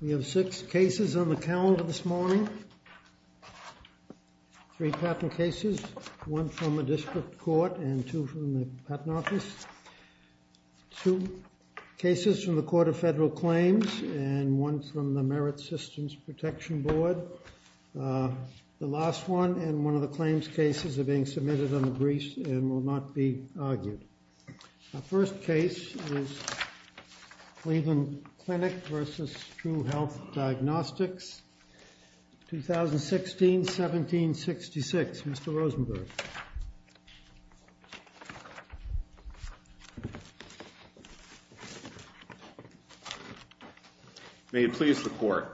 We have 6 cases on the calendar this morning, 3 patent cases, 1 from the District Court and 2 from the Patent Office, 2 cases from the Court of Federal Claims and 1 from the Systems Protection Board. The last one and one of the claims cases are being submitted on the briefs and will not be argued. Our first case is Cleveland Clinic v. True Health Diagnostics, 2016-17-66. Mr. Rosenberg. May it please the Court.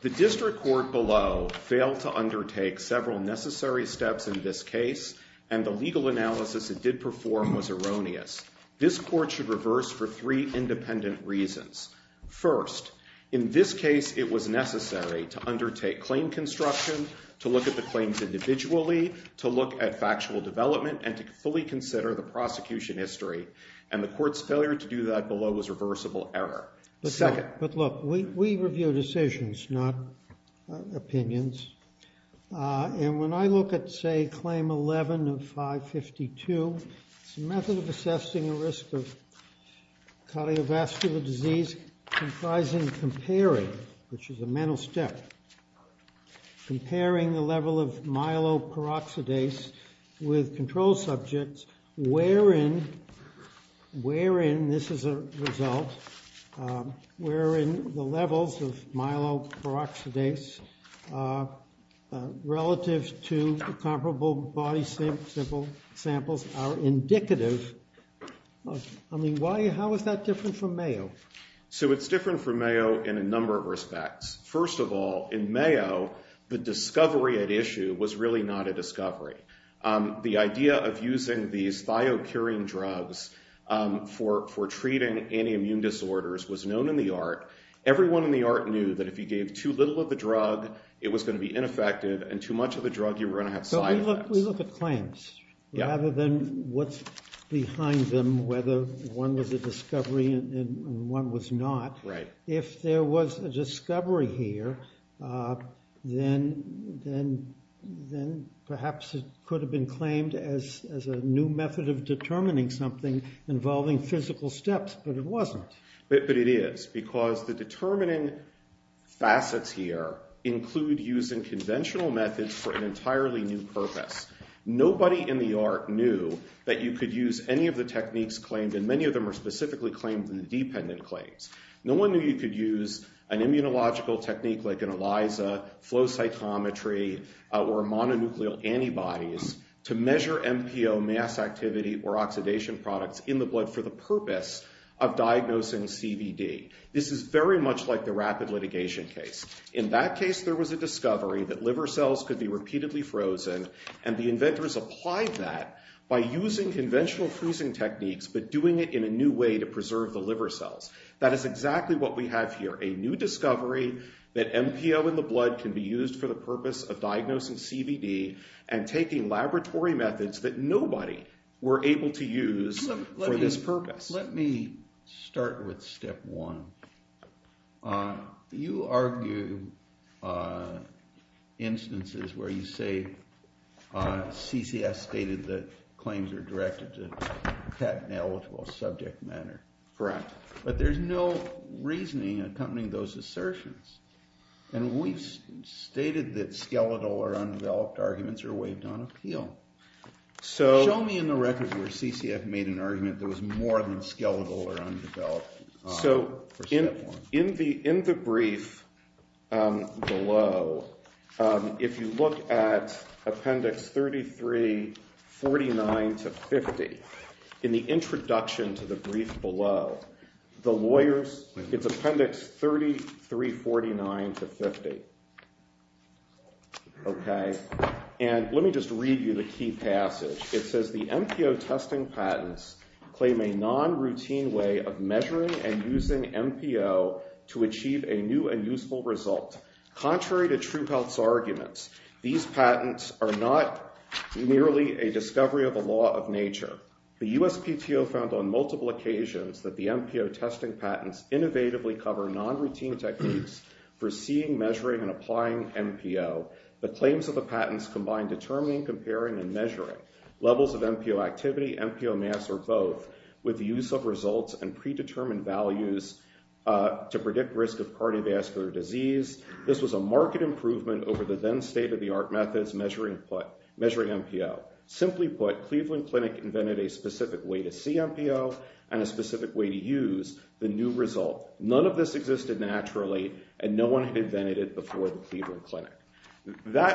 The District Court below failed to undertake several necessary steps in this case and the legal analysis it did perform was erroneous. This Court should reverse for 3 independent reasons. First, in this case it was necessary to undertake claim construction, to look at the claims individually, to look at factual development and to fully consider the prosecution history and the Court's failure to do that below was reversible error. Second. But look, we review decisions, not opinions. And when I look at, say, claim 11 of 552, it's a method of assessing the risk of cardiovascular disease comprising comparing, which is a mental step, comparing the level of myeloperoxidase with control subjects wherein, this is a result, wherein the levels of myeloperoxidase relative to comparable body samples are indicative. I mean, how is that different from Mayo? So it's different from Mayo in a number of respects. First of all, in Mayo, the discovery at issue was really not a discovery. The idea of using these thiocurine drugs for treating anti-immune disorders was known in the art. Everyone in the art knew that if you gave too little of the drug, it was going to be ineffective. And too much of the drug, you were going to have side effects. So we look at claims rather than what's behind them, whether one was a discovery and one was not. If there was a discovery here, then perhaps it could have been claimed as a new method of determining something involving physical steps, but it wasn't. But it is, because the determining facets here include using conventional methods for an entirely new purpose. Nobody in the art knew that you could use any of the techniques claimed, and many of them are specifically claimed in the dependent claims. No one knew you could use an immunological technique like an ELISA, flow cytometry, or mononuclear antibodies to measure MPO mass activity or oxidation products in the blood for the purpose of diagnosing CVD. This is very much like the rapid litigation case. In that case, there was a discovery that liver cells could be repeatedly frozen, and the inventors applied that by using conventional freezing techniques, but doing it in a new way to preserve the liver cells. That is exactly what we have here, a new discovery that MPO in the blood can be used for the purpose of determining laboratory methods that nobody were able to use for this purpose. Let me start with step one. You argue instances where you say CCS stated that claims are directed in an eligible subject matter. Correct. But there's no reasoning accompanying those assertions. We've stated that skeletal or undeveloped arguments are waived on appeal. Show me in the record where CCS made an argument that was more than skeletal or undeveloped. In the brief below, if you look at appendix 3349 to 50, in the introduction to the brief below, the lawyers, it's appendix 3349 to 50. Let me just read you the key passage. It says, the MPO testing patents claim a non-routine way of measuring and using MPO to achieve a new and useful result. Contrary to True Health's arguments, these patents are not merely a discovery of a law of nature. The USPTO found on multiple occasions that the MPO testing patents innovatively cover non-routine techniques for seeing, measuring, and applying MPO. The claims of the patents combine determining, comparing, and measuring levels of MPO activity, MPO mass, or both, with the use of results and predetermined values to predict risk of cardiovascular disease. This was a marked improvement over the then state-of-the-art methods measuring MPO. Simply put, Cleveland Clinic invented a specific way to see MPO and a specific way to use the new result. None of this existed naturally, and no one had invented it before the Cleveland Clinic.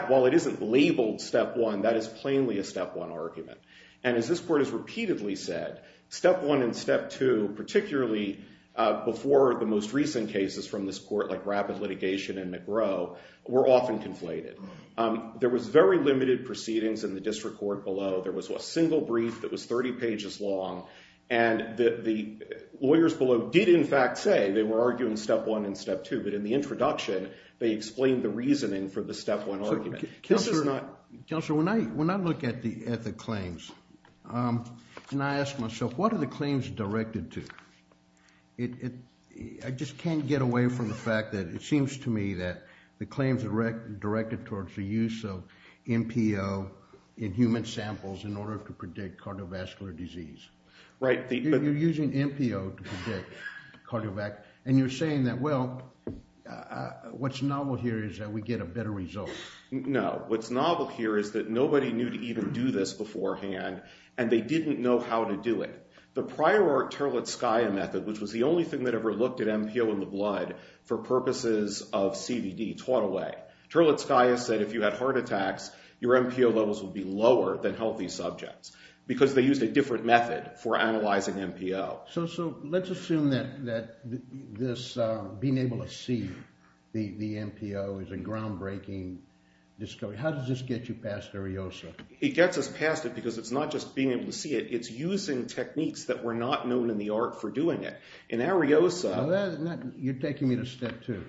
While it isn't labeled step one, that is plainly a step one argument. And as this court has repeatedly said, step one and step two, particularly before the most recent cases from this court, like rapid litigation and McGrow, were often conflated. There was very limited proceedings in the district court below. There was a single brief that was 30 pages long. And the lawyers below did, in fact, say they were arguing step one and step two. But in the introduction, they explained the reasoning for the step one argument. This is not- Counselor, when I look at the claims, and I ask myself, what are the claims directed to? I just can't get away from the fact that it seems to me that the claims are directed towards the use of MPO in human samples in order to predict cardiovascular disease. Right, but- You're using MPO to predict cardiovascular, and you're saying that, well, what's novel here is that we get a better result. No, what's novel here is that nobody knew to even do this beforehand, and they didn't know how to do it. The prior-art Terletzkaya method, which was the only thing that looked at MPO in the blood for purposes of CVD, taught away. Terletzkaya said if you had heart attacks, your MPO levels would be lower than healthy subjects, because they used a different method for analyzing MPO. So let's assume that being able to see the MPO is a groundbreaking discovery. How does this get you past Ariosa? It gets us past it because it's not just being able to see it. It's using techniques that were not known in the art for doing it. In Ariosa- No, you're taking me to step two.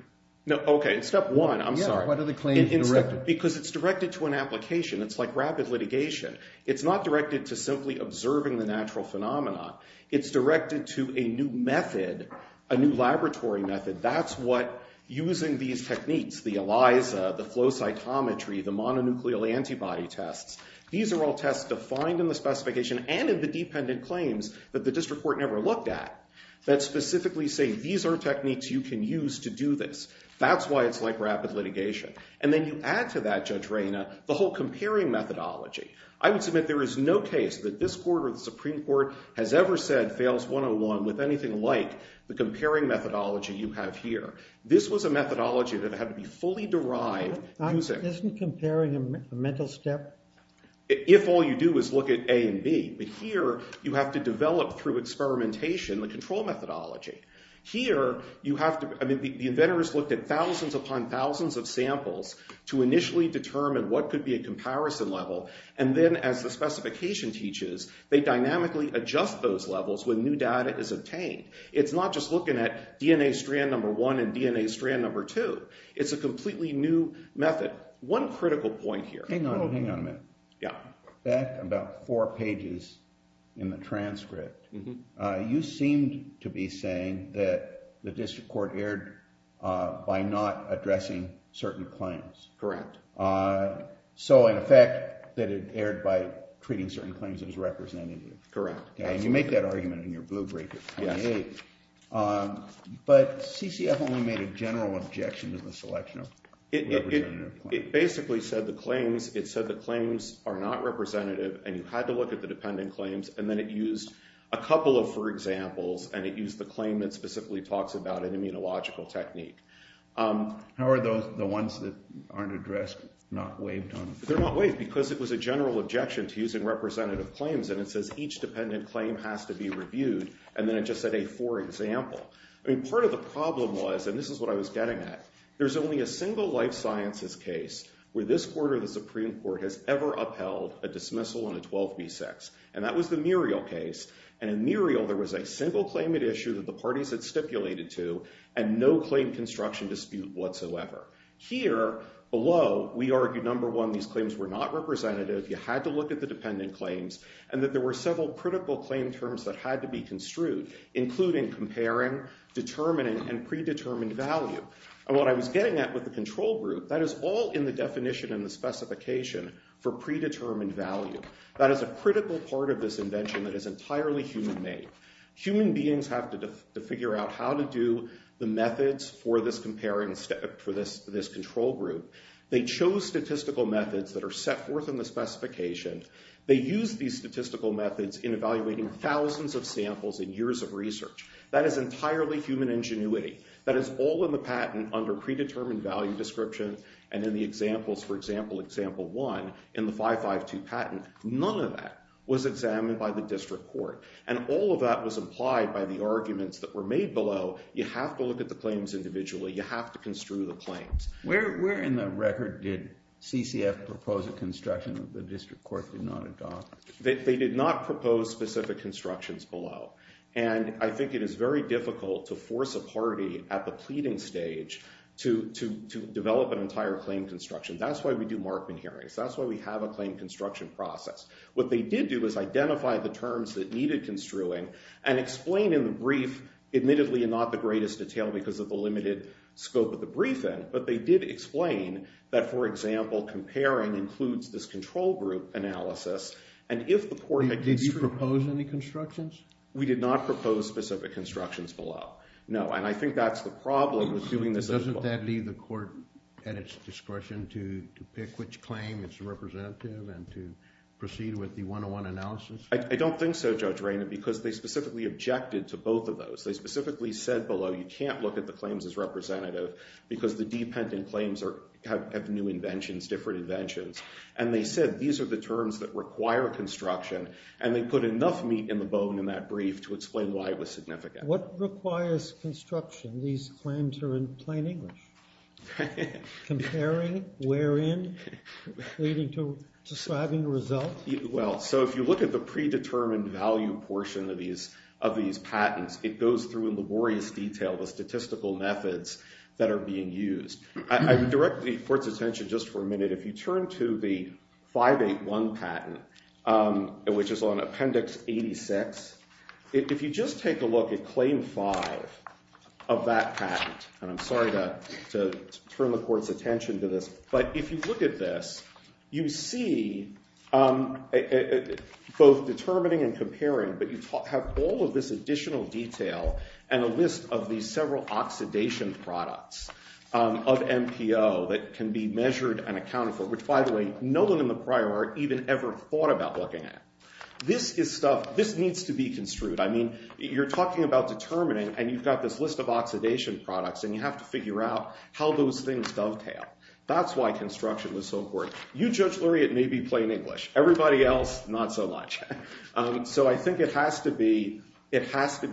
No, okay, step one. I'm sorry. Yeah, what are the claims directed- Because it's directed to an application. It's like rapid litigation. It's not directed to simply observing the natural phenomenon. It's directed to a new method, a new laboratory method. That's what using these techniques, the ELISA, the flow cytometry, the mononuclear antibody tests. These are all tests defined in the specification and in the dependent claims that the district court never looked at that specifically say these are techniques you can use to do this. That's why it's like rapid litigation. And then you add to that, Judge Reyna, the whole comparing methodology. I would submit there is no case that this court or the Supreme Court has ever said fails 101 with anything like the comparing methodology you have here. This was a methodology that had to be fully derived using- If all you do is look at A and B, but here you have to develop through experimentation, the control methodology. Here you have to- I mean, the inventors looked at thousands upon thousands of samples to initially determine what could be a comparison level. And then as the specification teaches, they dynamically adjust those levels when new data is obtained. It's not just looking at DNA strand number one and DNA strand number two. It's a completely new method. One critical point here- Hang on a minute. Back about four pages in the transcript, you seemed to be saying that the district court erred by not addressing certain claims. So in effect, that it erred by treating certain claims as representative. Correct. You make that argument in your blue brief at 28. But CCF only made a general objection to the selection of representative claims. It basically said the claims- It said the claims are not representative, and you had to look at the dependent claims. And then it used a couple of for-examples, and it used the claim that specifically talks about an immunological technique. How are the ones that aren't addressed not waived on? They're not waived because it was a general objection to using representative claims. And it says each dependent claim has to be reviewed. And then it just said a for-example. I mean, part of the problem was- And this is what I was getting at. There's only a single life sciences case where this court or the Supreme Court has ever upheld a dismissal on a 12b6. And that was the Muriel case. And in Muriel, there was a single claim at issue that the parties had stipulated to, and no claim construction dispute whatsoever. Here, below, we argued, number one, these claims were not representative. You had to look at the dependent claims. And that there were several critical claim terms that had to be construed, including comparing, determining, and predetermined value. And what I was getting at with the control group, that is all in the definition and the specification for predetermined value. That is a critical part of this invention that is entirely human-made. Human beings have to figure out how to do the methods for this comparing step, for this control group. They chose statistical methods that are set forth in the specification. They used these statistical methods in evaluating thousands of samples in years of research. That is entirely human ingenuity. That is all in the patent under predetermined value description. And in the examples, for example, example one, in the 552 patent, none of that was examined by the district court. And all of that was implied by the arguments that were made below, you have to look at the claims individually. You have to construe the claims. Where in the record did CCF propose a construction that the district court did not adopt? They did not propose specific constructions below. And I think it is very difficult to force a party at the pleading stage to develop an entire claim construction. That is why we do Markman hearings. That is why we have a claim construction process. What they did do is identify the terms that needed construing, and explain in the brief, admittedly not the greatest detail because of the limited scope of the briefing, but they did explain that, for example, comparing includes this control group analysis. And if the court had... Did you propose any constructions? We did not propose specific constructions below. No. And I think that is the problem with doing this... Doesn't that leave the court at its discretion to pick which claim is representative and to proceed with the one-on-one analysis? I don't think so, Judge Rayner, because they specifically objected to both of those. They specifically said below, you can't look at the claims as representative because the dependent claims have new inventions, different inventions. And they said, these are the terms that require construction. And they put enough meat in the bone in that brief to explain why it was significant. What requires construction? These claims are in plain English. Comparing, wherein, leading to describing the result. Well, so if you look at the predetermined value portion of these patents, it goes through laborious detail, the statistical methods that are being used. I would direct the court's attention just for a minute. If you turn to the 581 patent, which is on Appendix 86, if you just take a look at Claim 5 of that patent, and I'm sorry to turn the court's attention to this, but if you look at this, you see both determining and comparing, but you have all of this additional detail and a list of these several oxidation products of MPO that can be measured and accounted for, which, by the way, no one in the prior even ever thought about looking at. This needs to be construed. I mean, you're talking about determining, and you've got this list of oxidation products, and you have to figure out how those things dovetail. That's why construction was so important. You, Judge Lurie, it may be plain English. Everybody else, not so much. So I think it has to be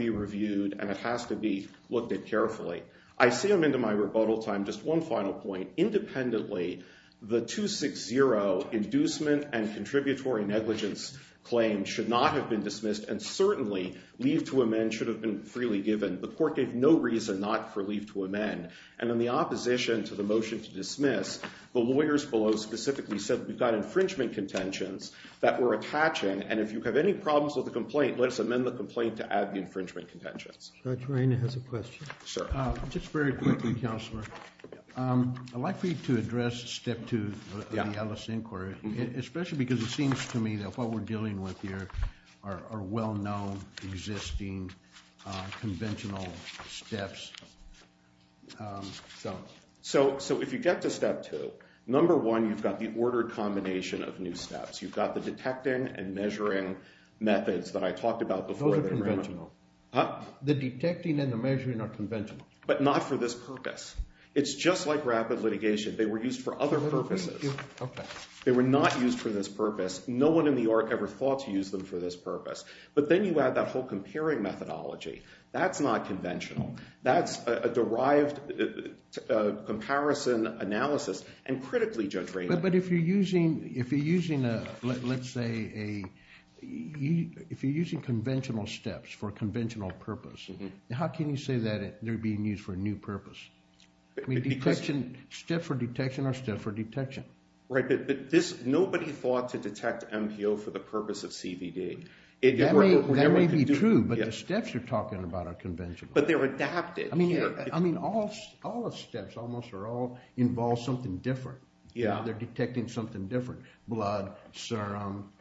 reviewed, and it has to be looked at carefully. I see I'm into my rebuttal time. Just one final point. Independently, the 260 inducement and contributory negligence claim should not have been dismissed, and certainly leave to amend should have been freely given. The court gave no reason not for leave to amend, and in the opposition to the motion to dismiss, the lawyers below specifically said we've got infringement contentions that we're attaching, and if you have any problems with the complaint, let us amend the complaint to add the infringement contentions. Judge Reina has a question. Sir. Just very quickly, Counselor, I'd like for you to address step two of the Ellis inquiry, especially because it seems to me that what we're dealing with here are well-known, existing, conventional steps. So if you get to step two, number one, you've got the ordered combination of new steps. You've got the detecting and measuring methods that I talked about before. Those are conventional. The detecting and the measuring are conventional. But not for this purpose. It's just like rapid litigation. They were used for other purposes. They were not used for this purpose. No one in the ARC ever thought to use them for this purpose. But then you add that whole comparing methodology. That's not conventional. That's a derived comparison analysis, and critically, Judge Reina. But if you're using, let's say, if you're using conventional steps for a conventional purpose, how can you say that they're being used for a new purpose? Step for detection or step for detection? Right. But nobody thought to detect MPO for the purpose of CVD. That may be true, but the steps you're talking about are conventional. But they're adapted here. I mean, all the steps almost are all involve something different. Yeah. They're detecting something different. Blood, serum,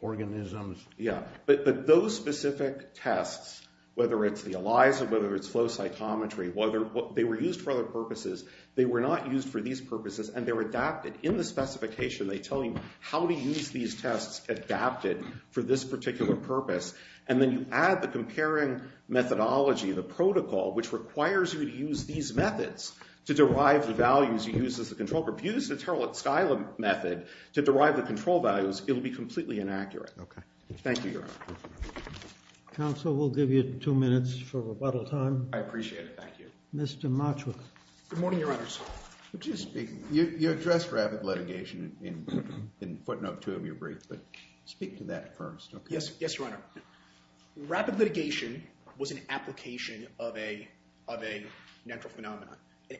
organisms. Yeah. But those specific tests, whether it's the ELISA, whether it's flow cytometry, they were used for other purposes. They were not used for these purposes, and they were adapted. In the specification, they tell you how to use these tests adapted for this particular purpose. And then you add the comparing methodology, the protocol, which requires you to use these methods to derive the values you use as the control. But if you use the Terlitz-Skyler method to derive the control values, it'll be completely inaccurate. OK. Thank you, Your Honor. Counsel, we'll give you two minutes for rebuttal time. I appreciate it. Thank you. Mr. Motchworth. Good morning, Your Honors. Would you speak? You addressed rapid litigation in footnote two of your brief. But speak to that first, OK? Yes. Yes, Your Honor. Rapid litigation was an application of a natural phenomenon.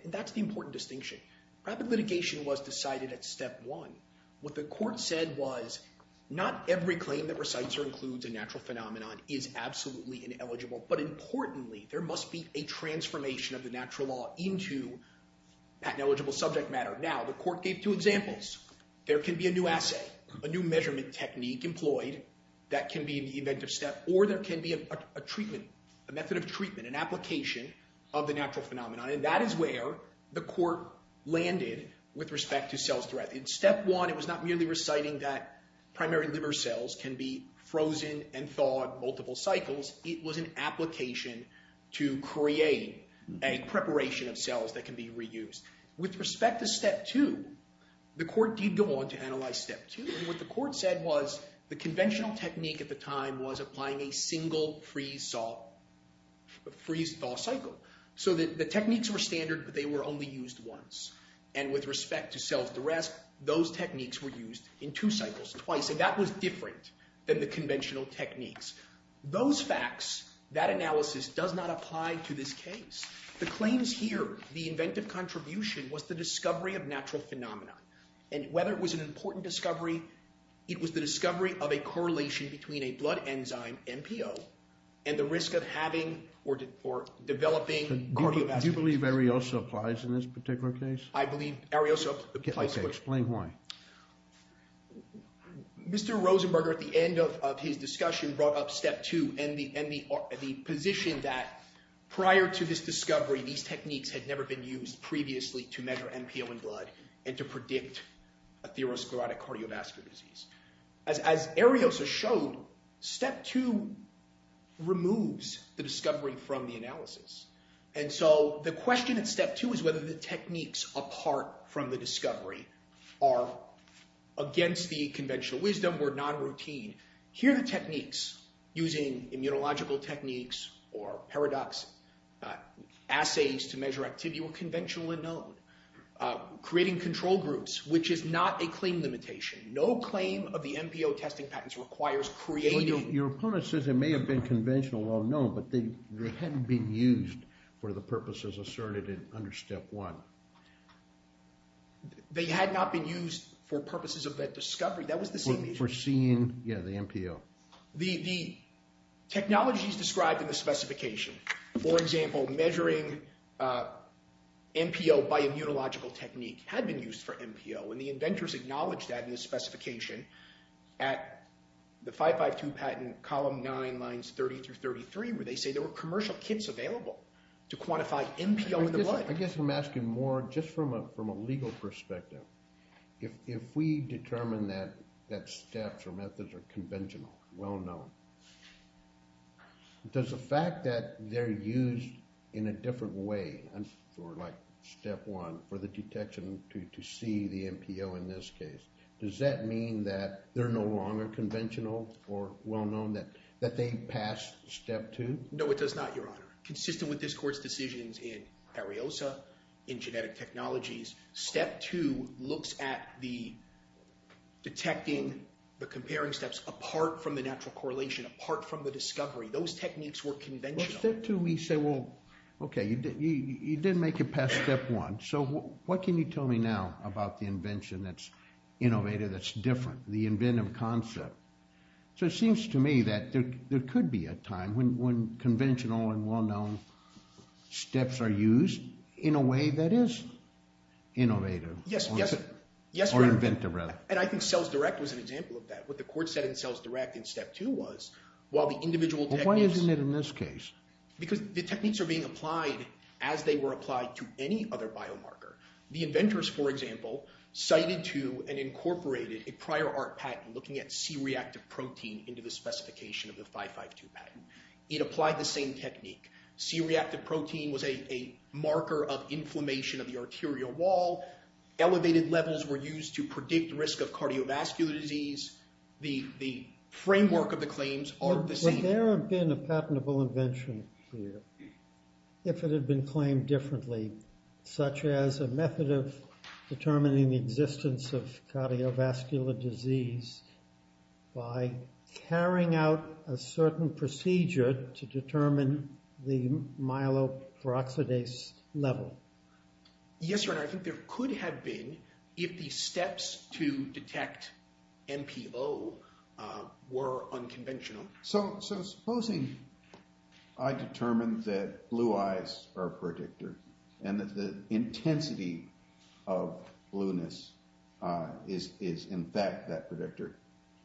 That's the important distinction. Rapid litigation was decided at step one. What the court said was not every claim that recites or includes a natural phenomenon is absolutely ineligible. But importantly, there must be a transformation of the natural law into patent-eligible subject matter. Now, the court gave two examples. There can be a new assay, a new measurement technique employed that can be in the event of step or there can be a treatment, a method of treatment, an application of the natural phenomenon. And that is where the court landed with respect to cell threat. In step one, it was not merely reciting that primary liver cells can be frozen and thawed multiple cycles. It was an application to create a preparation of cells that can be reused. With respect to step two, the court did go on to analyze step two. And what the court said was the conventional technique at the time was applying a single freeze-thaw cycle. So the techniques were standard, but they were only used once. And with respect to cells duress, those techniques were used in two cycles, twice. And that was different than the conventional techniques. Those facts, that analysis does not apply to this case. The claims here, the inventive contribution was the discovery of natural phenomenon. And whether it was an important discovery, it was the discovery of a correlation between a blood enzyme, MPO, and the risk of having or developing cardiovascular disease. Do you believe Arioso applies in this particular case? I believe Arioso applies. Explain why. So, Mr. Rosenberger at the end of his discussion brought up step two and the position that prior to this discovery, these techniques had never been used previously to measure MPO in blood and to predict atherosclerotic cardiovascular disease. As Arioso showed, step two removes the discovery from the analysis. And so the question at step two is whether the techniques apart from the discovery are against the conventional wisdom or non-routine. Here are the techniques using immunological techniques or paradox assays to measure activity were conventional and known. Creating control groups, which is not a claim limitation. No claim of the MPO testing patents requires creating... Your opponent says it may have been conventional or unknown, but they hadn't been used for the purposes asserted under step one. They had not been used for purposes of that discovery. That was the same... For seeing, yeah, the MPO. The technologies described in the specification, for example, measuring MPO by immunological technique had been used for MPO. And the inventors acknowledged that in the specification at the 552 patent column nine lines 30 through 33, I guess I'm asking more just from a legal perspective. If we determine that steps or methods are conventional, well-known, does the fact that they're used in a different way, or like step one for the detection to see the MPO in this case, does that mean that they're no longer conventional or well-known that they pass step two? No, it does not, Your Honor. Consistent with this court's decisions in Ariosa, in genetic technologies, step two looks at the detecting, the comparing steps apart from the natural correlation, apart from the discovery. Those techniques were conventional. Well, step two, we say, well, okay, you didn't make it past step one. So what can you tell me now about the invention that's innovative, that's different, the inventive concept? So it seems to me that there could be a time when conventional and well-known steps are used in a way that is innovative. Yes, Your Honor. Or inventive, rather. And I think CellsDirect was an example of that. What the court said in CellsDirect in step two was, while the individual techniques... Why isn't it in this case? Because the techniques are being applied as they were applied to any other biomarker. The inventors, for example, cited to and incorporated a prior art patent looking at C-reactive protein into the specification of the 552 patent. It applied the same technique. C-reactive protein was a marker of inflammation of the arterial wall. Elevated levels were used to predict risk of cardiovascular disease. The framework of the claims are the same. Would there have been a patentable invention here if it had been claimed differently, such as a method of determining the existence of cardiovascular disease by carrying out a certain procedure to determine the myeloperoxidase level? Yes, Your Honor. I think there could have been if the steps to detect MPO were unconventional. So supposing I determined that blue eyes are a predictor and that the intensity of blueness is in fact that predictor,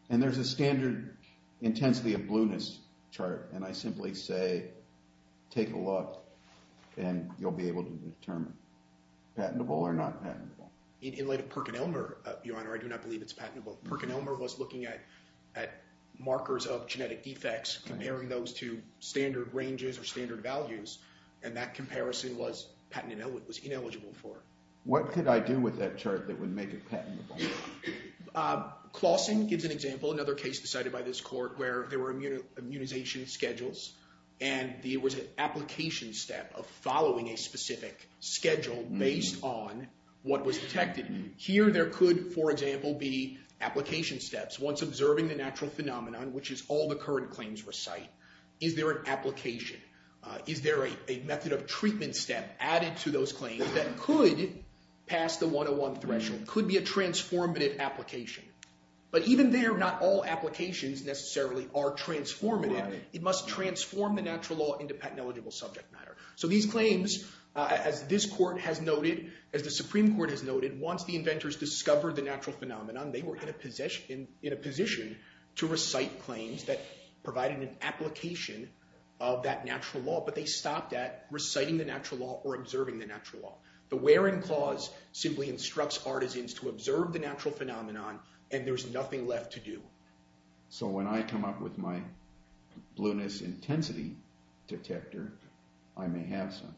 and there's a standard intensity of blueness chart, and I simply say, take a look, and you'll be able to determine patentable or not patentable. In light of Perkin-Elmer, Your Honor, I do not believe it's patentable. Perkin-Elmer was looking at markers of genetic defects, comparing those to standard ranges or standard values, and that comparison was ineligible for it. What could I do with that chart that would make it patentable? Claussen gives an example, another case decided by this court, where there were immunization schedules, and there was an application step of following a specific schedule based on what was detected. Here there could, for example, be application steps. Once observing the natural phenomenon, which is all the current claims recite, is there an application? Is there a method of treatment step added to those claims that could pass the 101 threshold, could be a transformative application? But even there, not all applications necessarily are transformative. It must transform the natural law into patent-eligible subject matter. So these claims, as this court has noted, as the Supreme Court has noted, once the inventors discovered the natural phenomenon, they were in a position to recite claims that provided an application of that natural law, but they stopped at reciting the natural law or observing the natural law. The Waring Clause simply instructs artisans to observe the natural phenomenon and there's nothing left to do. So when I come up with my blueness intensity detector, I may have some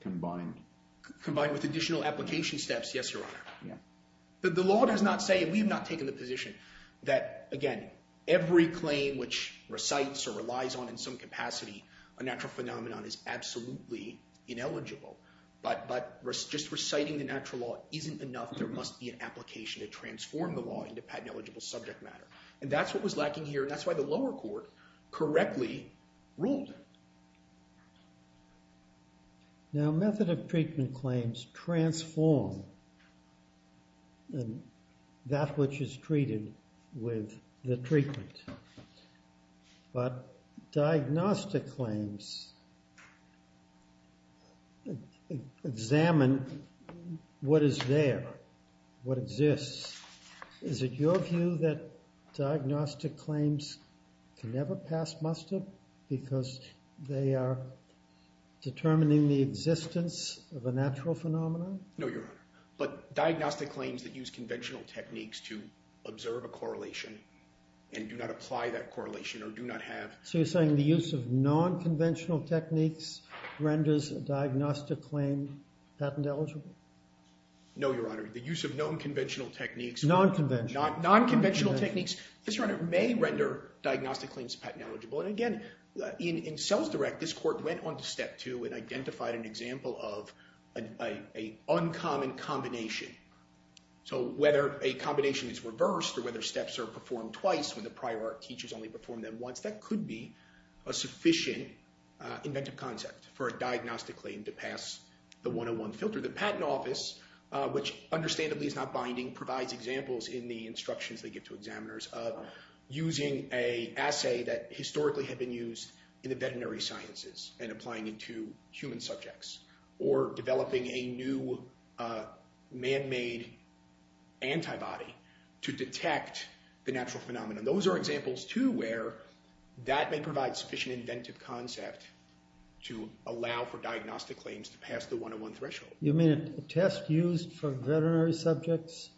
combined? Combined with additional application steps, yes, Your Honor. The law does not say, and we have not taken the position, that, again, every claim which recites or relies on in some capacity a natural phenomenon is absolutely ineligible. But just reciting the natural law isn't enough. There must be an application to transform the law into patent-eligible subject matter. And that's what was lacking here. And that's why the lower court correctly ruled. Now, method of treatment claims transform that which is treated with the treatment. But diagnostic claims examine what is there, what exists. Is it your view that diagnostic claims can never pass muster? Because they are determining the existence of a natural phenomenon? No, Your Honor. But diagnostic claims that use conventional techniques to observe a correlation and do not apply that correlation or do not have... So you're saying the use of non-conventional techniques renders a diagnostic claim patent-eligible? No, Your Honor. The use of non-conventional techniques... Non-conventional. Non-conventional techniques, Yes, Your Honor, may render diagnostic claims patent-eligible. And again, in Sells Direct, this court went on to step two and identified an example of an uncommon combination. So whether a combination is reversed or whether steps are performed twice when the prior art teachers only perform them once, that could be a sufficient inventive concept for a diagnostic claim to pass the 101 filter. The Patent Office, which understandably is not binding, provides examples in the instructions they give to examiners of using an assay that historically had been used in the veterinary sciences and applying it to human subjects or developing a new man-made antibody to detect the natural phenomenon. Those are examples, too, where that may provide sufficient inventive concept to allow for diagnostic claims to pass the 101 threshold. You mean a test used for veterinary subjects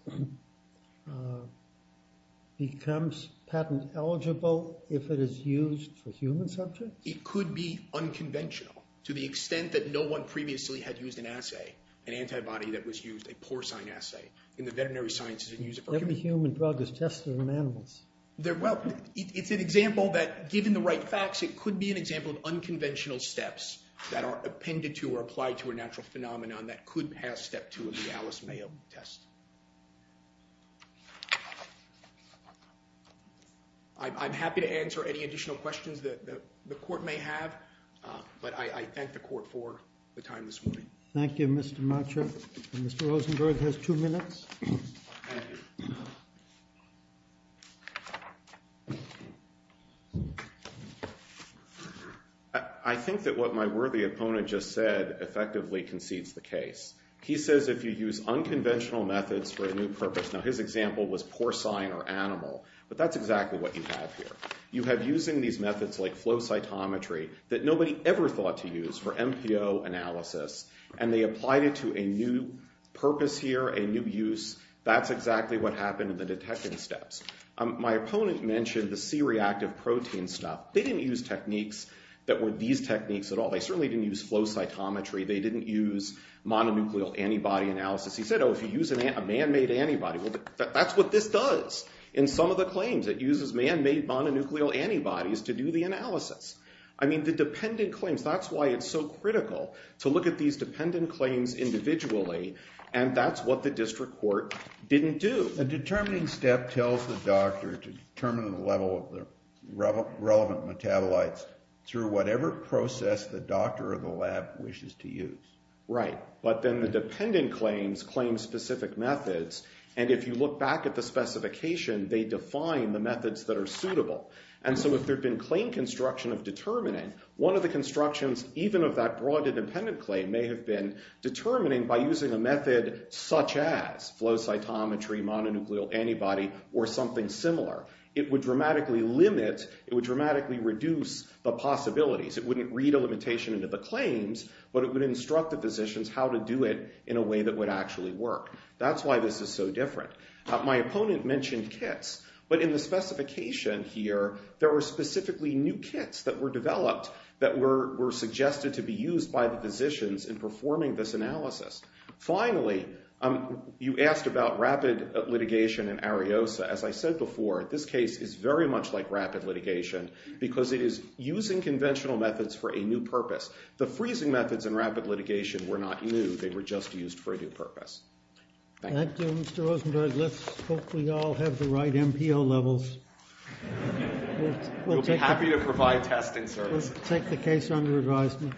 becomes patent-eligible if it is used for human subjects? It could be unconventional, to the extent that no one previously had used an assay, an antibody that was used, a porcine assay, in the veterinary sciences and used it for human subjects. Every human drug is tested on animals. Well, it's an example that, given the right facts, it could be an example of unconventional steps that are appended to or applied to a natural phenomenon that could pass step two of the Alice Mayo test. I'm happy to answer any additional questions that the court may have, but I thank the court for the time this morning. Thank you, Mr. Matcher. Mr. Rosenberg has two minutes. I think that what my worthy opponent just said effectively concedes the case. He says if you use unconventional methods for a new purpose, now his example was porcine or animal, but that's exactly what you have here. You have using these methods like flow cytometry that nobody ever thought to use for MPO analysis, and they applied it to a new purpose here, a new use. That's exactly what happened in the detecting steps. My opponent mentioned the C-reactive protein stuff. They didn't use techniques that were these techniques at all. They certainly didn't use flow cytometry. They didn't use mononuclear antibody analysis. He said, oh, if you use a man-made antibody, that's what this does. In some of the claims, it uses man-made mononuclear antibodies to do the analysis. I mean, the dependent claims, that's why it's so critical to look at these dependent claims individually, and that's what the district court didn't do. A determining step tells the doctor to determine the level of the relevant metabolites through whatever process the doctor or the lab wishes to use. Right, but then the dependent claims claim specific methods, and if you look back at the specification, they define the methods that are suitable, and so if there'd been claim construction of determining, one of the constructions, even of that broad independent claim, may have been determining by using a method such as flow cytometry, mononuclear antibody, or something similar. It would dramatically limit, it would dramatically reduce the possibilities. It wouldn't read a limitation into the claims, but it would instruct the physicians how to do it in a way that would actually work. That's why this is so different. My opponent mentioned kits, but in the specification here, there were specifically new kits that were developed that were suggested to be used by the physicians in performing this analysis. Finally, you asked about rapid litigation and Ariosa. As I said before, this case is very much like rapid litigation because it is using conventional methods for a new purpose. The freezing methods in rapid litigation were not new. They were just used for a new purpose. Thank you. Thank you, Mr. Rosenberg. Let's hope we all have the right MPO levels. We'll be happy to provide testing services. We'll take the case under advisement.